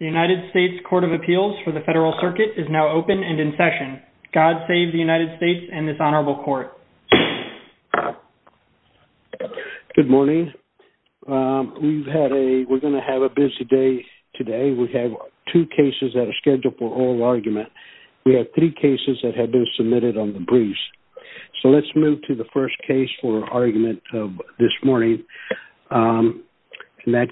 The United States Court of Appeals for the Federal Circuit is now open and in session. God save the United States and this honorable court. Good morning. We've had a, we're going to have a busy day today. We have two cases that are scheduled for oral argument. We have three cases that have been submitted on the briefs. So let's move to the first case for argument of this morning. And that,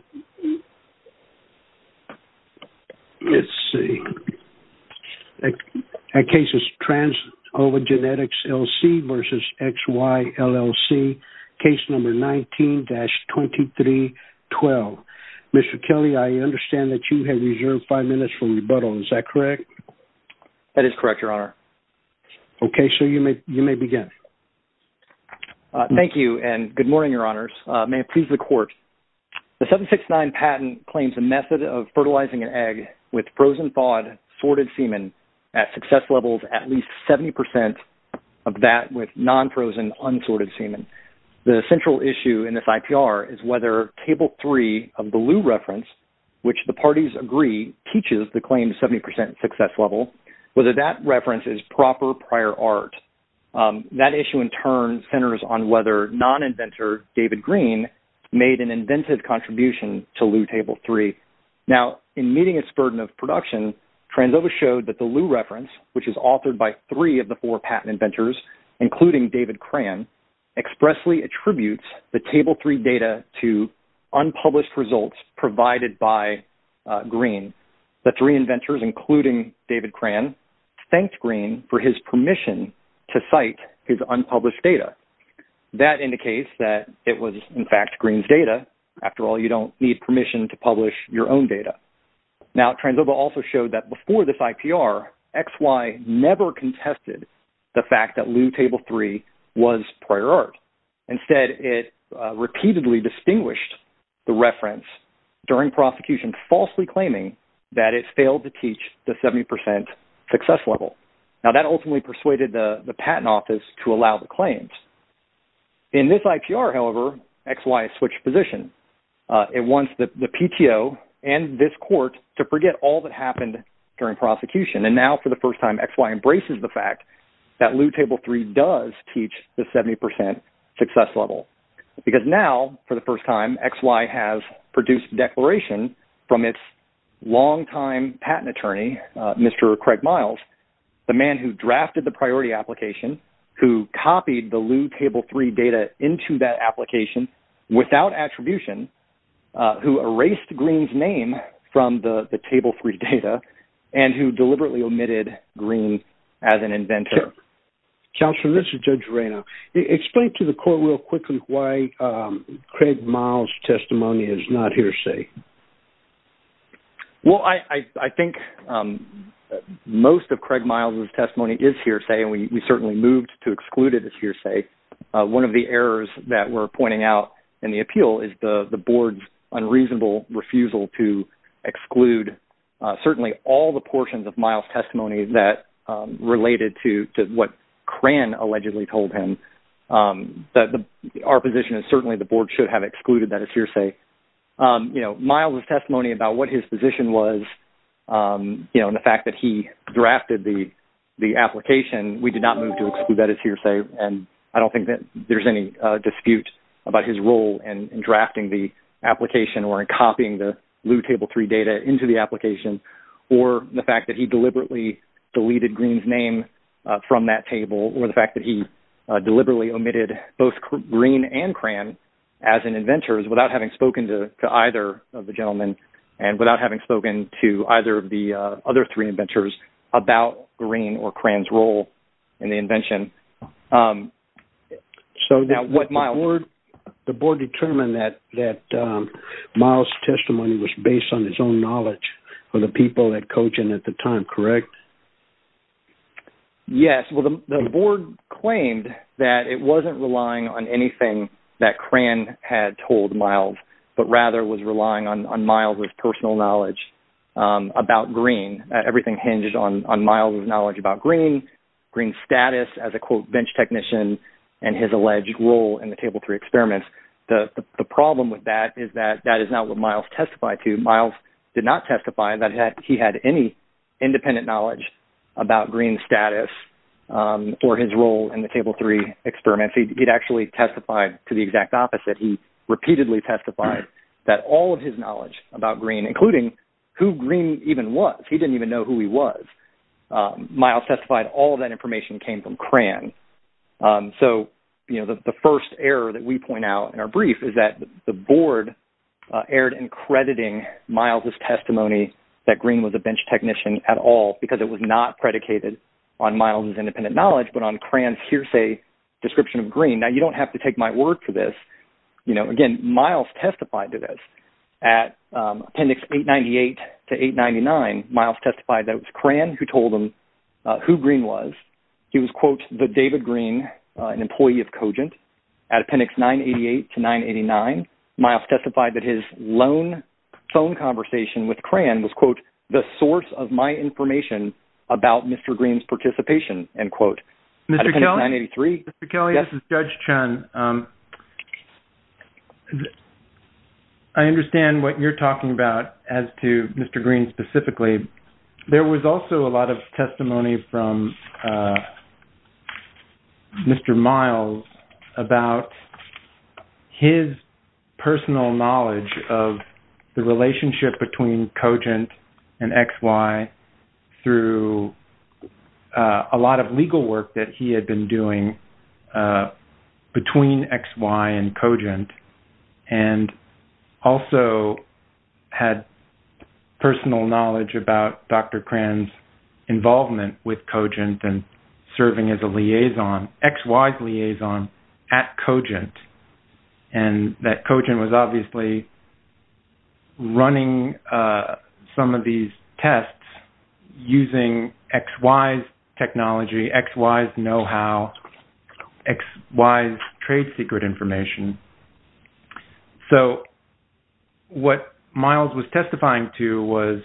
let's see, that case is Trans Ova Genetics, L.C. v. XY, LLC, case number 19-2312. Mr. Kelly, I understand that you have reserved five minutes for rebuttal. Is that correct? That is correct, Your Honor. Okay. So you may, you may begin. Thank you and good morning, Your Honors. May it please the court. Section 6-9 patent claims a method of fertilizing an egg with frozen thawed sorted semen at success levels at least 70% of that with non-frozen unsorted semen. The central issue in this IPR is whether Table 3 of the Lew Reference, which the parties agree teaches the claim 70% success level, whether that reference is proper prior art. That issue in turn centers on whether non-inventor David Green made an inventive contribution to Lew Table 3. Now in meeting its burden of production, Trans Ova showed that the Lew Reference, which is authored by three of the four patent inventors, including David Cran, expressly attributes the Table 3 data to unpublished results provided by Green. The three inventors, including David Cran, thanked Green for his permission to cite his unpublished data. That indicates that it was, in fact, Green's data. After all, you don't need permission to publish your own data. Now, Trans Ova also showed that before this IPR, XY never contested the fact that Lew Table 3 was prior art. Instead, it repeatedly distinguished the reference during prosecution, falsely claiming that it failed to teach the patent office to allow the claims. In this IPR, however, XY switched position. It wants the PTO and this court to forget all that happened during prosecution. And now for the first time, XY embraces the fact that Lew Table 3 does teach the 70% success level. Because now, for the first time, XY has produced a declaration from its longtime patent attorney, Mr. Craig Miles, the man who drafted the priority application, who copied the Lew Table 3 data into that application without attribution, who erased Green's name from the Table 3 data, and who deliberately omitted Green as an inventor. Counselor, this is Judge Reina. Explain to the court real quickly why Craig Miles' testimony is hearsay, and we certainly moved to exclude it as hearsay. One of the errors that we're pointing out in the appeal is the board's unreasonable refusal to exclude certainly all the portions of Miles' testimony that related to what Cran allegedly told him. Our position is certainly the board should have excluded that as hearsay. You know, Miles' testimony about what his position was, you know, and the fact that he drafted the application, we did not move to exclude that as hearsay. And I don't think that there's any dispute about his role in drafting the application or in copying the Lew Table 3 data into the application, or the fact that he deliberately deleted Green's name from that table, or the fact that he deliberately omitted both Green and Cran as inventors without having spoken to either of the gentlemen, and without having spoken to either of the other three inventors about Green or Cran's role in the invention. So the board determined that Miles' testimony was based on his own knowledge of the people at Cochin at the time, correct? Yes, well, the board claimed that it wasn't relying on anything that Cran had told Miles, but rather was relying on Miles' personal knowledge about Green. Everything hinges on Miles' knowledge about Green, Green's status as a, quote, bench technician, and his alleged role in the Table 3 experiments. The problem with that is that that is not what Miles testified to. Miles did not testify that he had any independent knowledge about Green's status or his role in the Table 3 experiments. He'd actually testified to the exact opposite. He repeatedly testified that all of his knowledge about Green, including who Green even was, he didn't even know who he was, Miles testified all that information came from Cran. So, you know, the first error that we point out in our brief is that the board erred in crediting Miles' testimony that Green was a bench technician at all, because it was not predicated on Miles' independent knowledge, but on Cran's say, description of Green. Now, you don't have to take my word for this, you know, again, Miles testified to this. At Appendix 898 to 899, Miles testified that it was Cran who told him who Green was. He was, quote, the David Green, an employee of Cogent. At Appendix 988 to 989, Miles testified that his lone phone conversation with Cran was, quote, the source of my information about Mr. Green's participation, end quote. Mr. Kelly, this is Judge Chun. I understand what you're talking about as to Mr. Green specifically. There was also a lot of testimony from Mr. Miles about his personal knowledge of the relationship between Cogent and XY through a lot of legal work that he had been doing between XY and Cogent, and also had personal knowledge about Dr. Cran's involvement with Cogent and serving as a liaison, XY's liaison at Cogent, and that Cogent was obviously running some of these tests using XY's technology, XY's know-how, XY's trade secret information. So, what Miles was testifying to was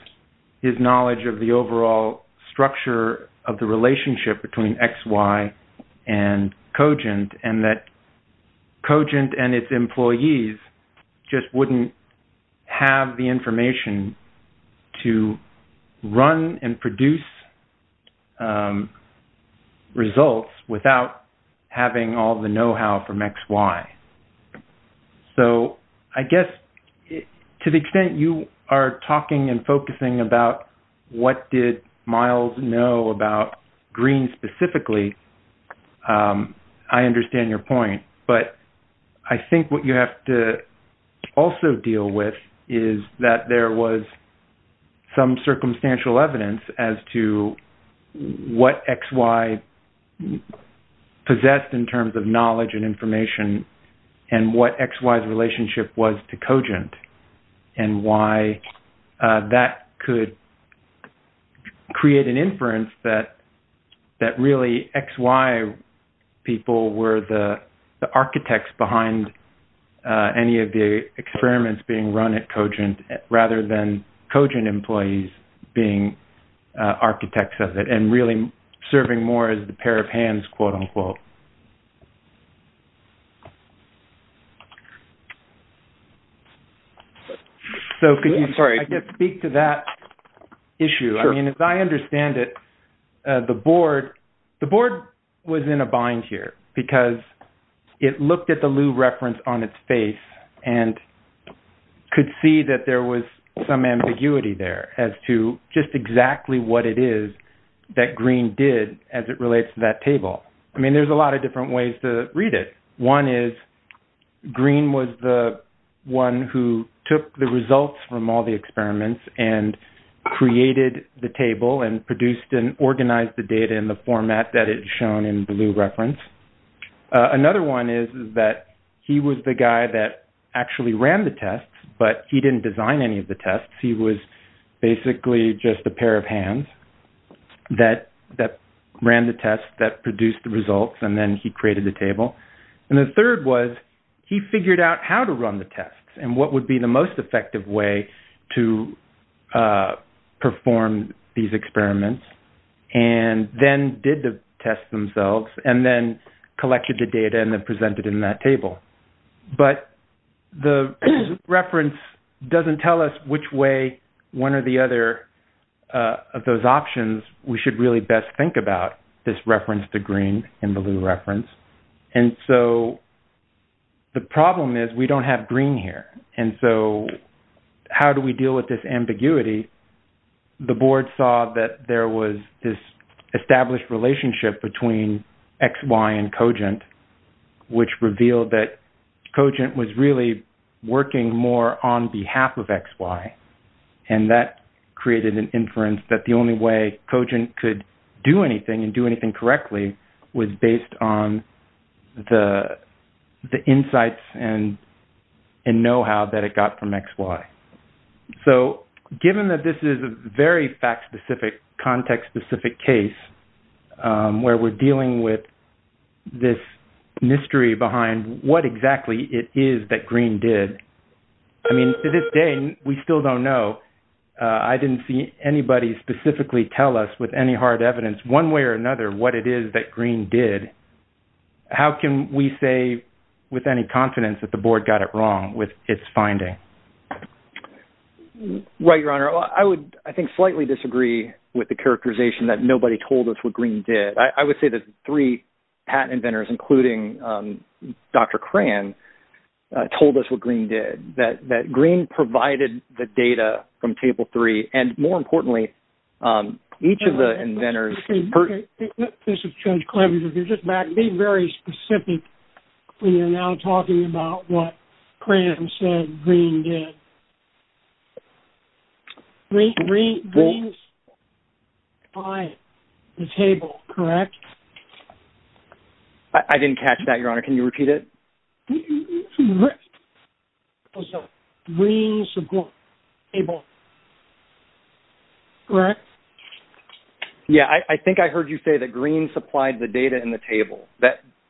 his knowledge of the overall structure of the relationship between XY and Cogent, and that Cogent and its employees just wouldn't have the information to run and produce results without having all the know-how from XY. So, I guess to the extent you are talking and focusing about what did Miles know about Green specifically, I understand your point, but I think what you have to also deal with is that there was some circumstantial evidence as to what XY possessed in terms of knowledge and information, and what XY's relationship was to Cogent, and why that could create an inference that really XY people were the architects behind any of the experiments being run at Cogent, rather than Cogent employees being architects of it, and really serving more as the chair of hands, quote-unquote. So, could you speak to that issue? I mean, as I understand it, the board was in a bind here, because it looked at the Liu reference on its face and could see that there was some ambiguity there as to just exactly what it is that Green did as it relates to that table. I mean, there's a lot of different ways to read it. One is, Green was the one who took the results from all the experiments, and created the table, and produced and organized the data in the format that is shown in the Liu reference. Another one is that he was the guy that actually ran the tests, but he didn't design any of the tests. He was basically just a pair of hands that ran the tests, that produced the results, and then he created the table. And the third was, he figured out how to run the tests, and what would be the most effective way to perform these experiments, and then did the tests themselves, and then collected the data and then presented in that table. But the reference doesn't tell us which way, one or the other, of those options we should really best think about, this reference to Green in the Liu reference. And so, the problem is, we don't have Green here. And so, how do we deal with this ambiguity? The board saw that there was this established relationship between XY and Cogent, which revealed that Cogent was really working more on behalf of XY. And that created an inference that the only way Cogent could do anything, and do anything correctly, was based on the insights and know-how that it got from XY. So, given that this is a very fact-specific, context-specific case, where we're dealing with this mystery behind what exactly it is that Green did, I mean, to this day, we still don't know. I didn't see anybody specifically tell us with any hard evidence, one way or another, what it is that Green did. How can we say with any confidence that the board got it wrong with its finding? Right, Your I would, I think, slightly disagree with the characterization that nobody told us what Green did. I would say that three patent inventors, including Dr. Cran, told us what Green did. That Green provided the data from Table 3, and more importantly, each of the inventors... This is Judge Clemmons. If you just might be very specific, we are now talking about what Cram said Green did. Green supplied the table, correct? I didn't catch that, Your Honor. Can you repeat it? Green supplied the table, correct? Yeah, I think I heard you say that Green supplied the data in the table.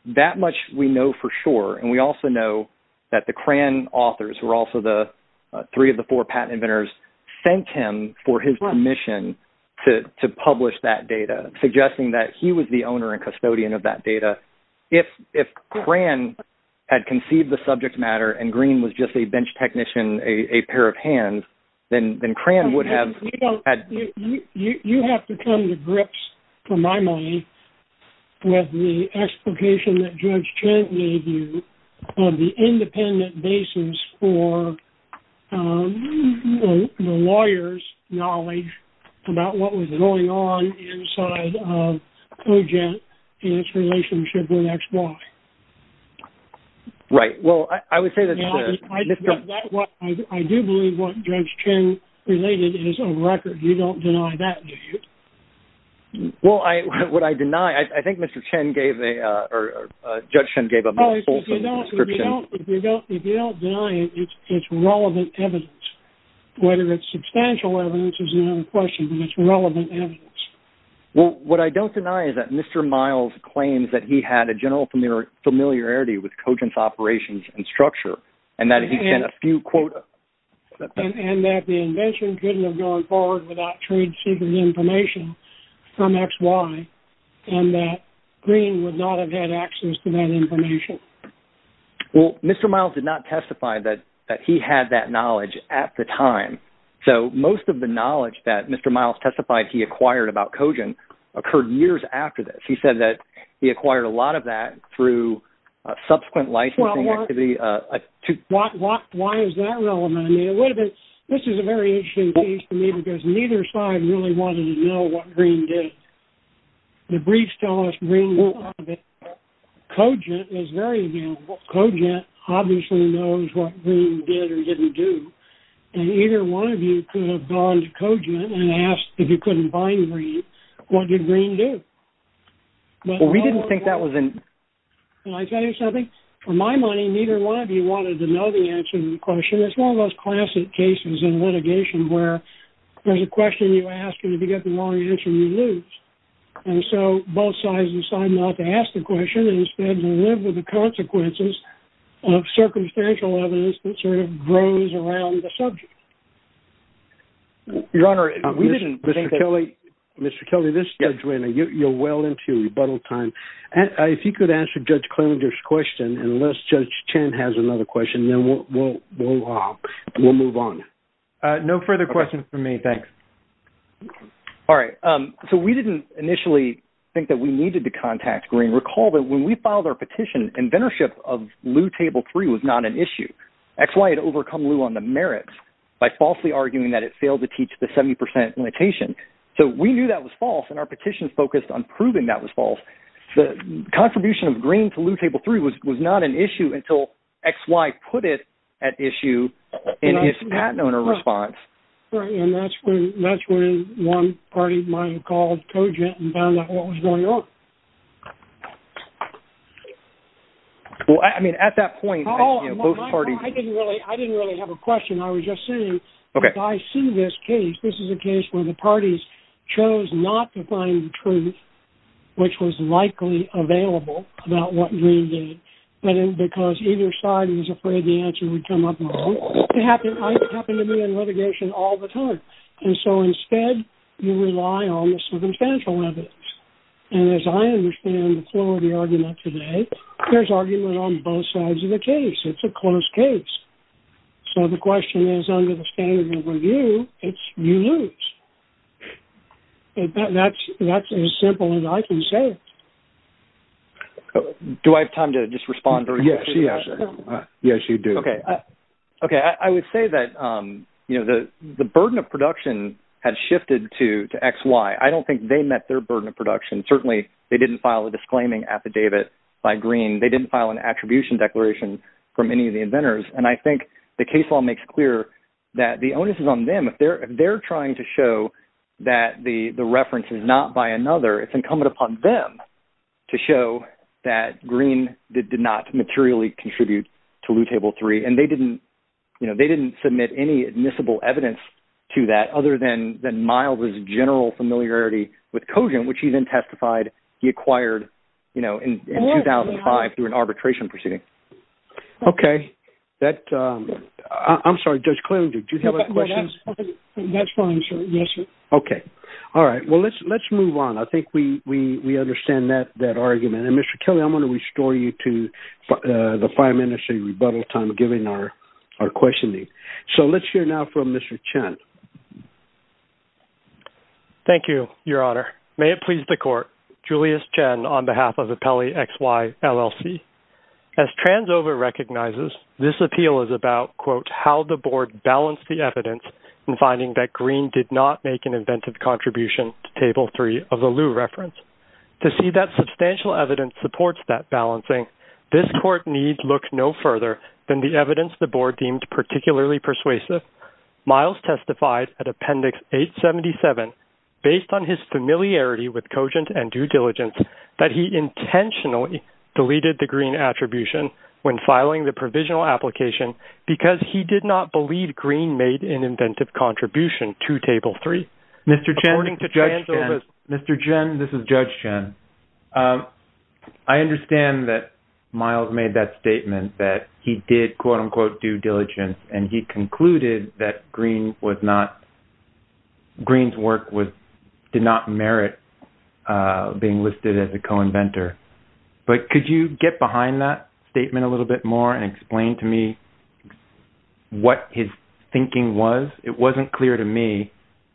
That much we know for sure, and we also know that the Cram authors, who are also the three of the four patent inventors, thanked him for his permission to publish that data, suggesting that he was the owner and custodian of that data. If Cram had conceived the subject matter and Green was just a bench technician, a pair of hands, then Cram would have... You have to come to grips, for my money, with the explication that Judge Chen gave you on the independent basis for the lawyers' knowledge about what was going on inside of UGENT and its relationship with XY. Right. Well, I would say that... I do believe what Judge Chen related is a record. You don't deny it, it's relevant evidence. Whether it's substantial evidence is another question, but it's relevant evidence. Well, what I don't deny is that Mr. Miles claims that he had a general familiarity with Cogent's operations and structure, and that he sent a few quotas. And that the invention couldn't have gone forward without trade secret information from XY, and that Green would not have had access to that information. Well, Mr. Miles did not testify that he had that knowledge at the time, so most of the knowledge that Mr. Miles testified he acquired about Cogent occurred years after this. He said that he would have been... This is a very interesting piece to me, because neither side really wanted to know what Green did. The briefs tell us Green won't have it. Cogent is very available. Cogent obviously knows what Green did or didn't do. And either one of you could have gone to Cogent and asked if you couldn't find Green, what did Green do? Well, we didn't think that was an... Can I tell you something? For my money, neither one of you wanted to know the answer to the question. It's one of those classic cases in litigation where there's a question you ask, and if you get the wrong answer, you lose. And so both sides decide not to ask the question, and instead to live with the consequences of circumstantial evidence that sort of grows around the subject. Your Honor, we didn't think that... Mr. Kelly, this is Judge Rayner. You're well into rebuttal time. If you could answer Judge Klinger's question, unless Judge Chen has another question, then we'll move on. No further questions for me. Thanks. All right. So we didn't initially think that we needed to contact Green. Recall that when we filed our petition, inventorship of Lew Table 3 was not an issue. XY had overcome Lew on the merits by falsely arguing that it failed to teach the 70% limitation. So we knew that was false, and our petition focused on proving that was false. The contribution of Green to Lew Table 3 was not an issue until XY put it at issue in his patent owner response. And that's when one party of mine called Cogent and found out what was going on. Well, I mean, at that point, both parties... I didn't really have a question. I was just saying, I see this case. This is a case where the parties chose not to find the truth, which was likely available about what Green did, because either side was afraid the answer would come up wrong. It happened to me in litigation all the time. And so instead, you rely on the circumstantial evidence. And as I understand the flow of the argument today, there's argument on both sides of the case. It's a close case. So the question is, under the standard of review, it's you lose. That's as simple as I can say. Do I have time to just respond? Yes, you do. Okay. I would say that the burden of production has shifted to XY. I don't think they met their burden of production. Certainly, they didn't file a disclaiming affidavit by Green. They didn't file an attribution declaration from any of the inventors. And I think the case law makes clear that the onus is on them. If they're trying to show that the reference is not by another, it's incumbent upon them to show that Green did not materially contribute to Loot Table 3. And they didn't submit any admissible evidence to that, other than Miles' general familiarity with Cogent, which he then testified he acquired in 2005 through an arbitration proceeding. Okay. I'm sorry, Judge Clearing, did you have a question? That's fine, sir. Yes, sir. Okay. All right. Well, let's move on. I think we understand that argument. And Mr. Kelly, I'm going to restore you to the five minutes of your rebuttal time, given our questioning. So let's hear now from Mr. Chen. Thank you, Your Honor. May it please the court, Julius Chen, on behalf of the Pelley XY LLC, as Transova recognizes, this appeal is about, quote, how the board balanced the evidence in finding that Green did not make an inventive contribution to Table 3 of the Loot reference. To see that substantial evidence supports that balancing, this court needs look no further than the evidence the board deemed particularly persuasive. Miles testified at Appendix 877, based on his familiarity with Cogent and due diligence, that he intentionally deleted the Green attribution when filing the provisional application, because he did not believe Green made an inventive contribution to Table 3. Mr. Chen, this is Judge Chen. I understand that Miles made that statement, that he did, quote, unquote, due diligence, and he concluded that Green's work did not merit being listed as a co-inventor. But could you get behind that statement a little bit more and explain to me what his thinking was? It wasn't clear to me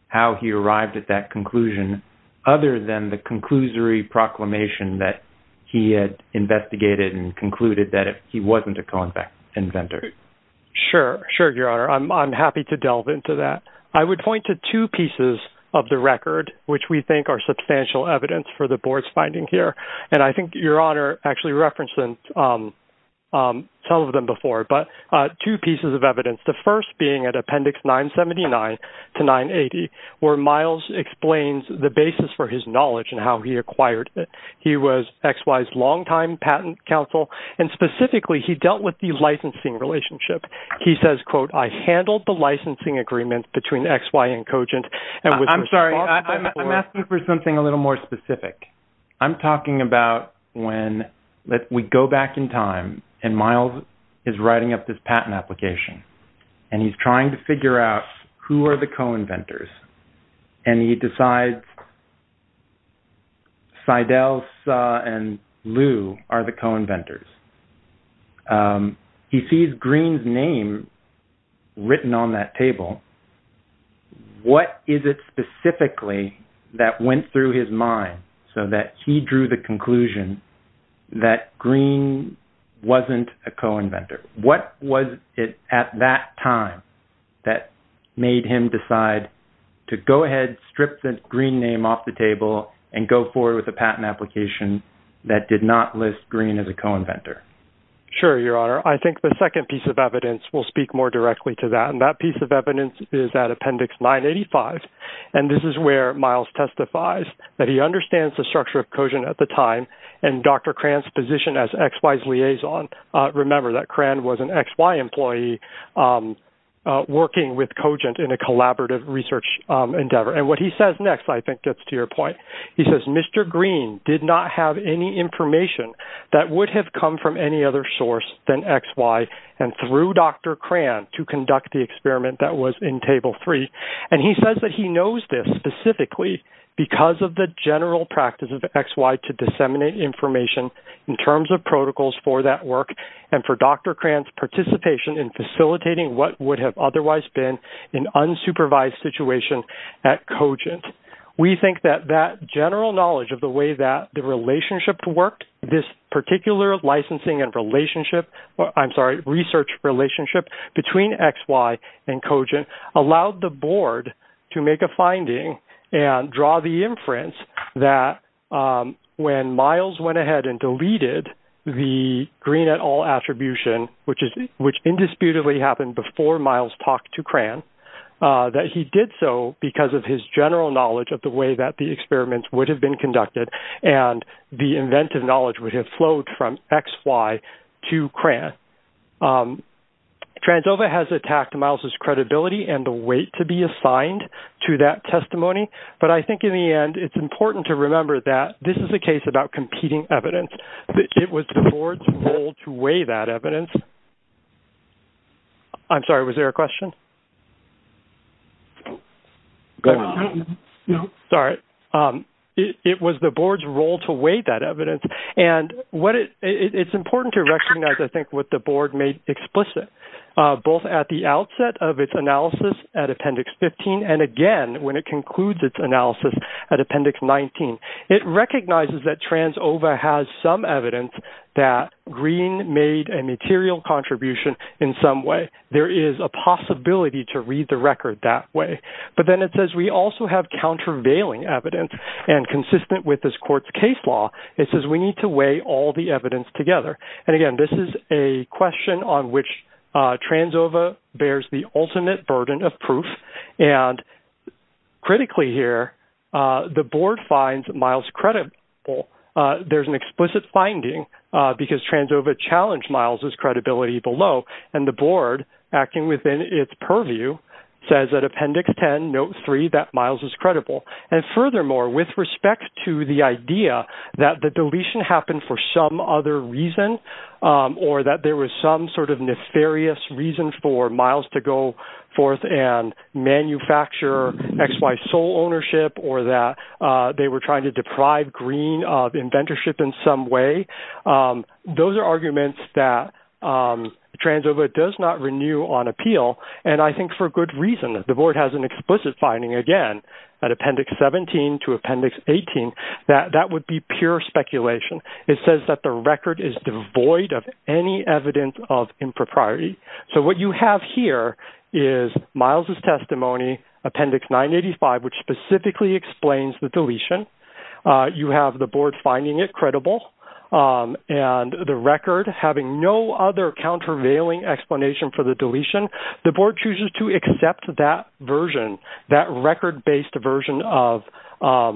how he arrived at that conclusion, other than the conclusory proclamation that he had investigated and concluded that he wasn't a co-inventor. Sure, sure, Your Honor. I'm happy to delve into that. I would point to two pieces of the record, which we think are substantial evidence for the board's finding here. And I think Your Honor actually referenced some of them before, but two pieces of evidence, the first being at Appendix 979 to 980, where Miles explains the basis for his knowledge and how he acquired it. He was XY's patent counsel, and specifically, he dealt with the licensing relationship. He says, quote, I handled the licensing agreement between XY and Cogent. I'm sorry, I'm asking for something a little more specific. I'm talking about when we go back in time, and Miles is writing up this patent application. And he's trying to figure out who are the co-inventors. And he decides that Seidel, Suh, and Liu are the co-inventors. He sees Green's name written on that table. What is it specifically that went through his mind so that he drew the conclusion that Green wasn't a co-inventor? What was it at that time that made him decide to go ahead, strip the Green name off the table, and go forward with a patent application that did not list Green as a co-inventor? Sure, Your Honor. I think the second piece of evidence will speak more directly to that. And that piece of evidence is at Appendix 985. And this is where Miles testifies that he understands the structure of Cogent at the time, and Dr. Cran's position as XY's liaison. Remember that Cran was an XY employee working with Cogent in a collaborative research endeavor. And what he says next, I think, gets to your point. He says, Mr. Green did not have any information that would have come from any other source than XY and through Dr. Cran to conduct the experiment that was in Table 3. And he says that he knows this specifically because of the general practice of XY to disseminate information in terms of protocols for that work and for Dr. Cran's participation in facilitating what would have otherwise been an unsupervised situation at Cogent. We think that that general knowledge of the way that the relationship worked, this particular licensing and relationship, I'm sorry, research relationship between XY and Cogent allowed the board to make a finding and draw the inference that when Miles went ahead and deleted the Green et al. attribution, which indisputably happened before Miles talked to Cran, that he did so because of his general knowledge of the way that the experiments would have been conducted and the inventive knowledge would have flowed from XY to Cran. And Tranzova has attacked Miles' credibility and the weight to be assigned to that testimony. But I think in the end, it's important to remember that this is a case about competing evidence. It was the board's role to weigh that evidence. I'm sorry, was there a question? Sorry. It was the board's role to weigh that evidence. And it's important to recognize, I think, what the board made explicit, both at the outset of its analysis at Appendix 15. And again, when it concludes its analysis at Appendix 19, it recognizes that Tranzova has some evidence that Green made a material contribution in some way. There is a possibility to read the record that way. But then it says we also have countervailing evidence and consistent with this court's case law. It says we need to weigh all the evidence together. And again, this is a question on which Tranzova bears the ultimate burden of proof. And critically here, the board finds Miles credible. There's an explicit finding because Tranzova challenged Miles' credibility below. And the board, acting within its purview, says that Appendix 10, Note 3, that Miles is credible. And furthermore, with respect to the idea that the deletion happened for some other reason, or that there was some sort of nefarious reason for Miles to go forth and manufacture XY sole ownership, or that they were trying to deprive Green of inventorship in some way. Those are arguments that Tranzova does not renew on appeal. And I think for good reason, the board has an explicit finding, again, that Appendix 17 to Appendix 18, that would be pure speculation. It says that the record is devoid of any evidence of impropriety. So what you have here is Miles' testimony, Appendix 985, which specifically explains the deletion. You have the board finding it credible. And the record having no other countervailing explanation for the deletion, the board chooses to accept that version, that record-based version of the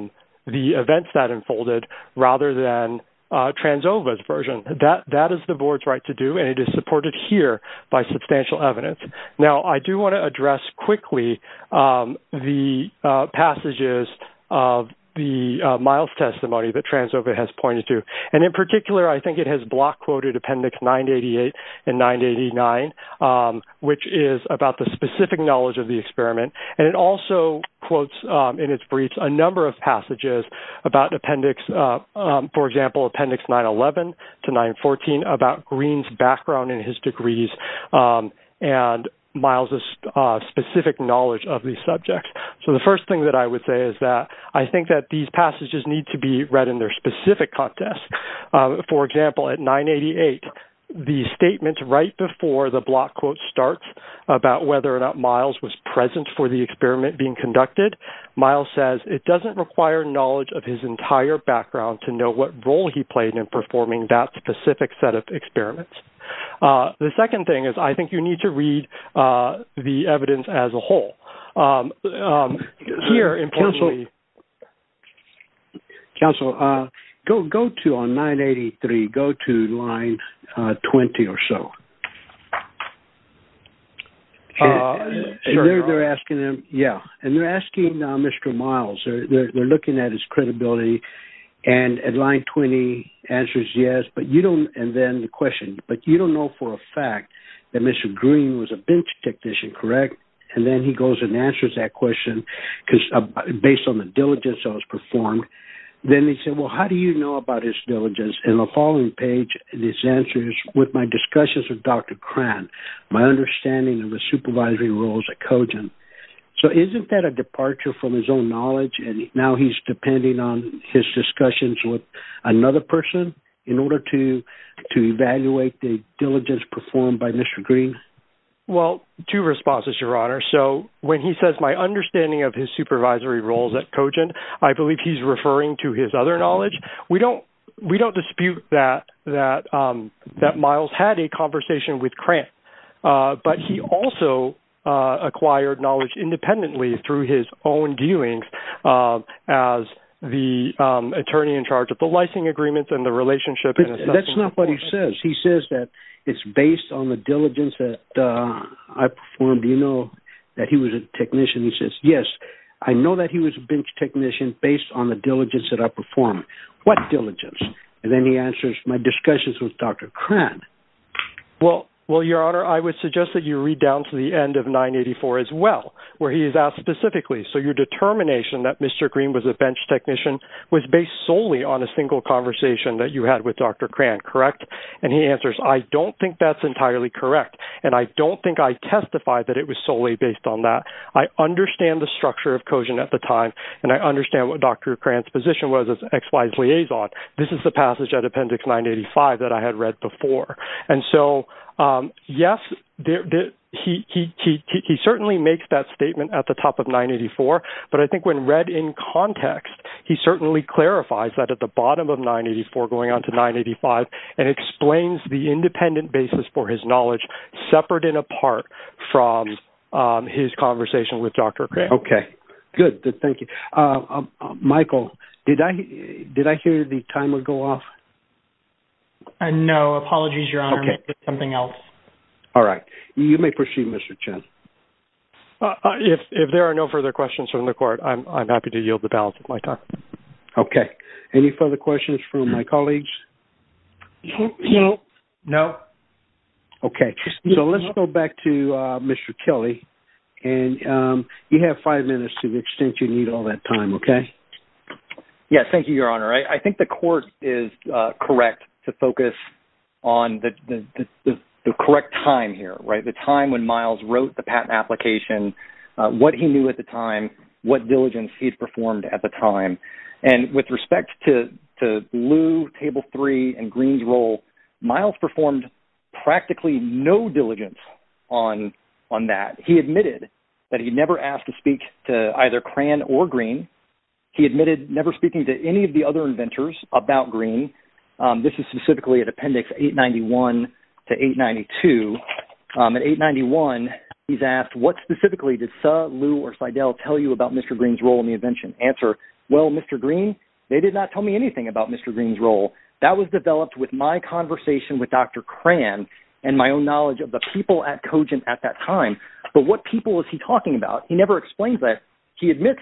events that unfolded, rather than Tranzova's version. That is the board's right to do, and it is supported here by substantial evidence. Now, I do want to address quickly the passages of the Miles' testimony that Tranzova has pointed to. And in particular, I think it has block-quoted Appendix 988 and 989, which is about the specific knowledge of the experiment. And it also quotes in its briefs a number of passages about Appendix, for example, Appendix 911 to 914, about Green's background and his degrees, and Miles' specific knowledge of these subjects. So the first thing that I would say is that I think that these passages need to be read in their specific context. For example, at 988, the statement right before the block quote starts about whether or not Miles was present for the experiment being conducted, Miles says it doesn't require knowledge of his entire background to know what role he played in performing that specific set of experiments. The second thing is I think you need to read the evidence as a whole. Here, importantly... Counsel, go to, on 983, go to line 20 or so. They're asking him, yeah, and they're asking Mr. Miles, they're looking at his credibility, and at line 20, answers yes, but you don't, and then the question, but you don't know for a fact that Mr. Green was a bench technician, correct? And then he goes and answers that question based on the diligence that was performed. Then they said, well, how do you know about his diligence? And the following page, this answers, with my discussions with Dr. Cran, my understanding of the supervisory roles at Cogen. So isn't that a departure from his own knowledge, and now he's depending on his discussions with another person in order to evaluate the diligence performed by Mr. Green? Well, two responses, your honor. So when he says my understanding of his supervisory roles at Cogen, I believe he's referring to his other knowledge. We don't, we don't dispute that, that Miles had a conversation with Cran, but he also acquired knowledge independently through his own dealings as the attorney in charge of the licensing agreements and the relationship. That's not what he says. He says that it's based on the diligence that I performed. Do you know that he was a technician? He says, yes, I know that he was a bench technician based on the diligence that I performed. What diligence? And then he answers my discussions with Dr. Cran. Well, well, your honor, I would suggest that you read down to the end of 984 as well, where he is asked specifically. So your determination that Mr. Green was a bench technician, that you had with Dr. Cran, correct? And he answers, I don't think that's entirely correct. And I don't think I testified that it was solely based on that. I understand the structure of Cogen at the time. And I understand what Dr. Cran's position was as XY's liaison. This is the passage at appendix 985 that I had read before. And so, yes, he certainly makes that statement at the top of 984. But I think when read in context, he certainly clarifies that at the end of 984 going on to 985 and explains the independent basis for his knowledge, separate and apart from his conversation with Dr. Cran. Okay, good. Thank you. Michael, did I hear the timer go off? No, apologies, your honor. Something else. All right. You may proceed, Mr. Chen. If there are no further questions from the court, I'm happy to yield the ballot at my time. Okay. Any further questions from my colleagues? No. Okay. So, let's go back to Mr. Kelly. And you have five minutes to the extent you need all that time, okay? Yes, thank you, your honor. I think the court is correct to focus on the correct time here, right? The time when Miles wrote the patent application, what he knew at the time, what diligence he had performed at the time. And with respect to Liu, Table 3, and Green's role, Miles performed practically no diligence on that. He admitted that he never asked to speak to either Cran or Green. He admitted never speaking to any of the other inventors about Green. This is specifically at Appendix 891 to 892. At 891, he's asked, what specifically did Suh, about Mr. Green's role in the invention? Answer, well, Mr. Green, they did not tell me anything about Mr. Green's role. That was developed with my conversation with Dr. Cran and my own knowledge of the people at Cogent at that time. But what people is he talking about? He never explains that. He admits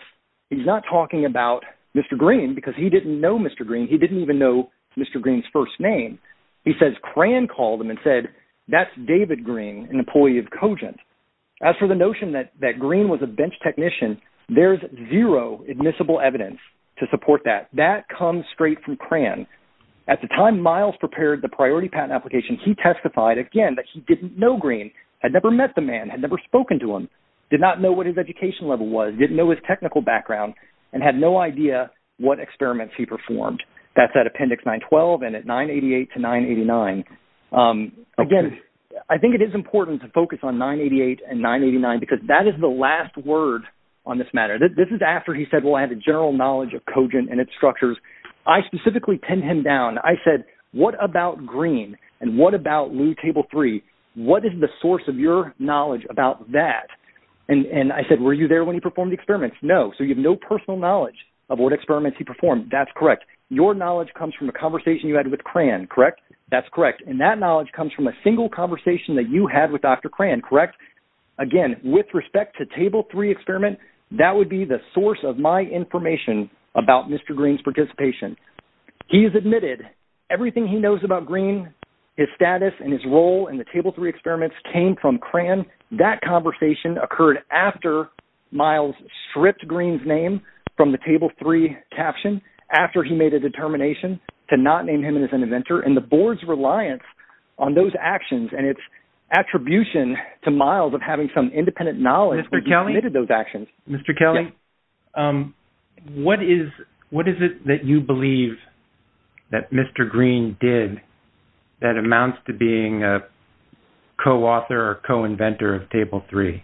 he's not talking about Mr. Green because he didn't know Mr. Green. He didn't even know Mr. Green's first name. He says Cran called him and said, that's David Green, an employee of Cogent. There's zero admissible evidence to support that. That comes straight from Cran. At the time Miles prepared the priority patent application, he testified again that he didn't know Green, had never met the man, had never spoken to him, did not know what his education level was, didn't know his technical background, and had no idea what experiments he performed. That's at Appendix 912 and at 988 to 989. Again, I think it is important to focus on 988 and 989 because that is the last word on this matter. This is after he said, well, I have a general knowledge of Cogent and its structures. I specifically pinned him down. I said, what about Green? And what about Lew Table 3? What is the source of your knowledge about that? And I said, were you there when he performed the experiments? No. So you have no personal knowledge of what experiments he performed. That's correct. Your knowledge comes from a conversation you had with Cran, correct? That's correct. And that knowledge comes from a single conversation that you had with Dr. Cran, correct? Again, with respect to Table 3 experiment, that would be the source of my information about Mr. Green's participation. He has admitted everything he knows about Green, his status and his role in the Table 3 experiments came from Cran. That conversation occurred after Miles stripped Green's name from the Table 3 caption, after he made a determination to not name him as an inventor and the board's reliance on those actions and its attribution to Miles of having some independent knowledge when he committed those actions. Mr. Kelly, what is it that you believe that Mr. Green did that amounts to being a co-author or co-inventor of Table 3?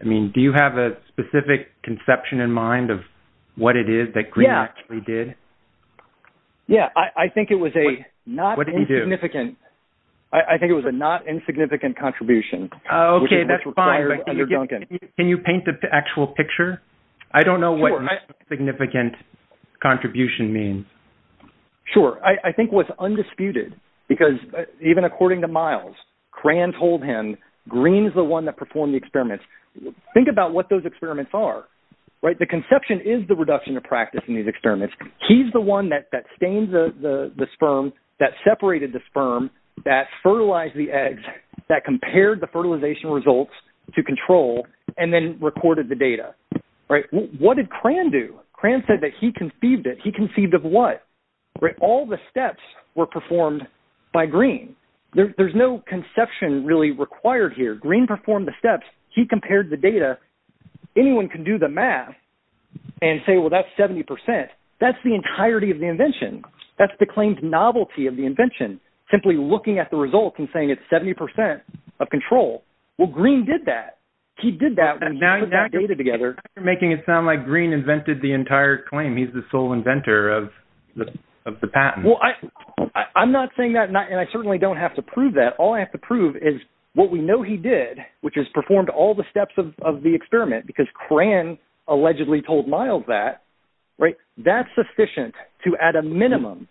I mean, do you have a specific conception in mind of what it is that Green actually did? Yeah, I think it was a not insignificant contribution. Can you paint the actual picture? I don't know what insignificant contribution means. Sure. I think what's undisputed, because even according to Miles, Cran told him, Green's the one that performed the experiments. Think about what those experiments are. The conception is the reduction of practice in these experiments. He's the one that stains the sperm, that separated the sperm, that fertilized the eggs, that compared the fertilization results to control and then recorded the data. What did Cran do? Cran said that he conceived it. He conceived of what? All the steps were performed by Green. There's no conception really required here. Green performed the steps. He compared the data. Anyone can do the math and say, well, that's 70%. That's the entirety of the invention. That's the claimed novelty of the invention. Simply looking at the results and saying it's 70% of control. Well, Green did that. He did that when he put that data together. You're making it sound like Green invented the entire claim. He's the sole inventor of the patent. Well, I'm not saying that and I certainly don't have to prove that. All I have to prove is what we know he did, which is performed all the steps of the experiment because Cran allegedly told Miles that. That's sufficient to, at a minimum,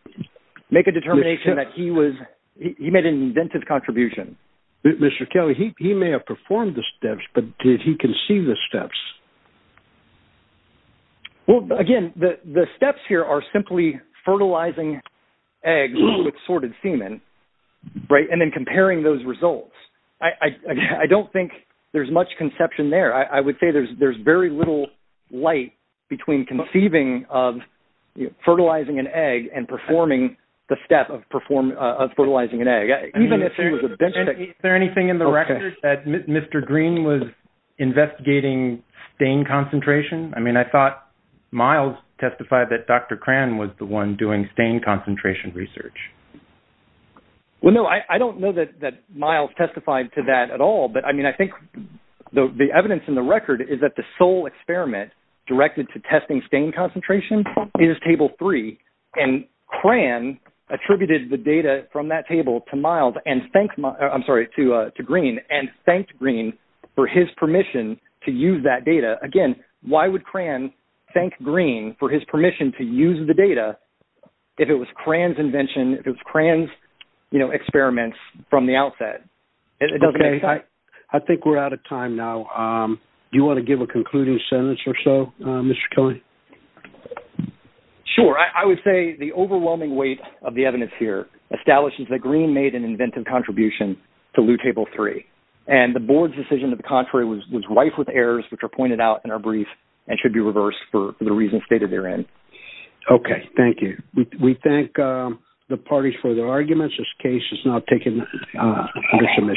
make a determination that he made an inventive contribution. Mr. Kelly, he may have performed the steps, but did he conceive the steps? Again, the steps here are simply fertilizing eggs with sorted semen and then comparing those results. I don't think there's much conception there. I would say there's very little light between conceiving of fertilizing an egg and performing the step of fertilizing an egg. Is there anything in the record that Mr. Green was investigating stain concentration? I thought Miles testified that Dr. Cran was the one doing concentration research. Well, no, I don't know that Miles testified to that at all. I think the evidence in the record is that the sole experiment directed to testing stain concentration is Table 3. Cran attributed the data from that table to Green and thanked Green for his permission to use that data. Again, why would Cran thank Green for his permission to use the data if it was Cran's invention, if it was Cran's experiments from the outset? I think we're out of time now. Do you want to give a concluding sentence or so, Mr. Kelly? Sure. I would say the overwhelming weight of the evidence here establishes that Green made an inventive contribution to Loo Table 3. The board's decision to the contrary was rife with errors, which are pointed out in our brief and should be reversed for the reasons stated therein. Okay. Thank you. We thank the parties for their arguments. This case is now taken under submission.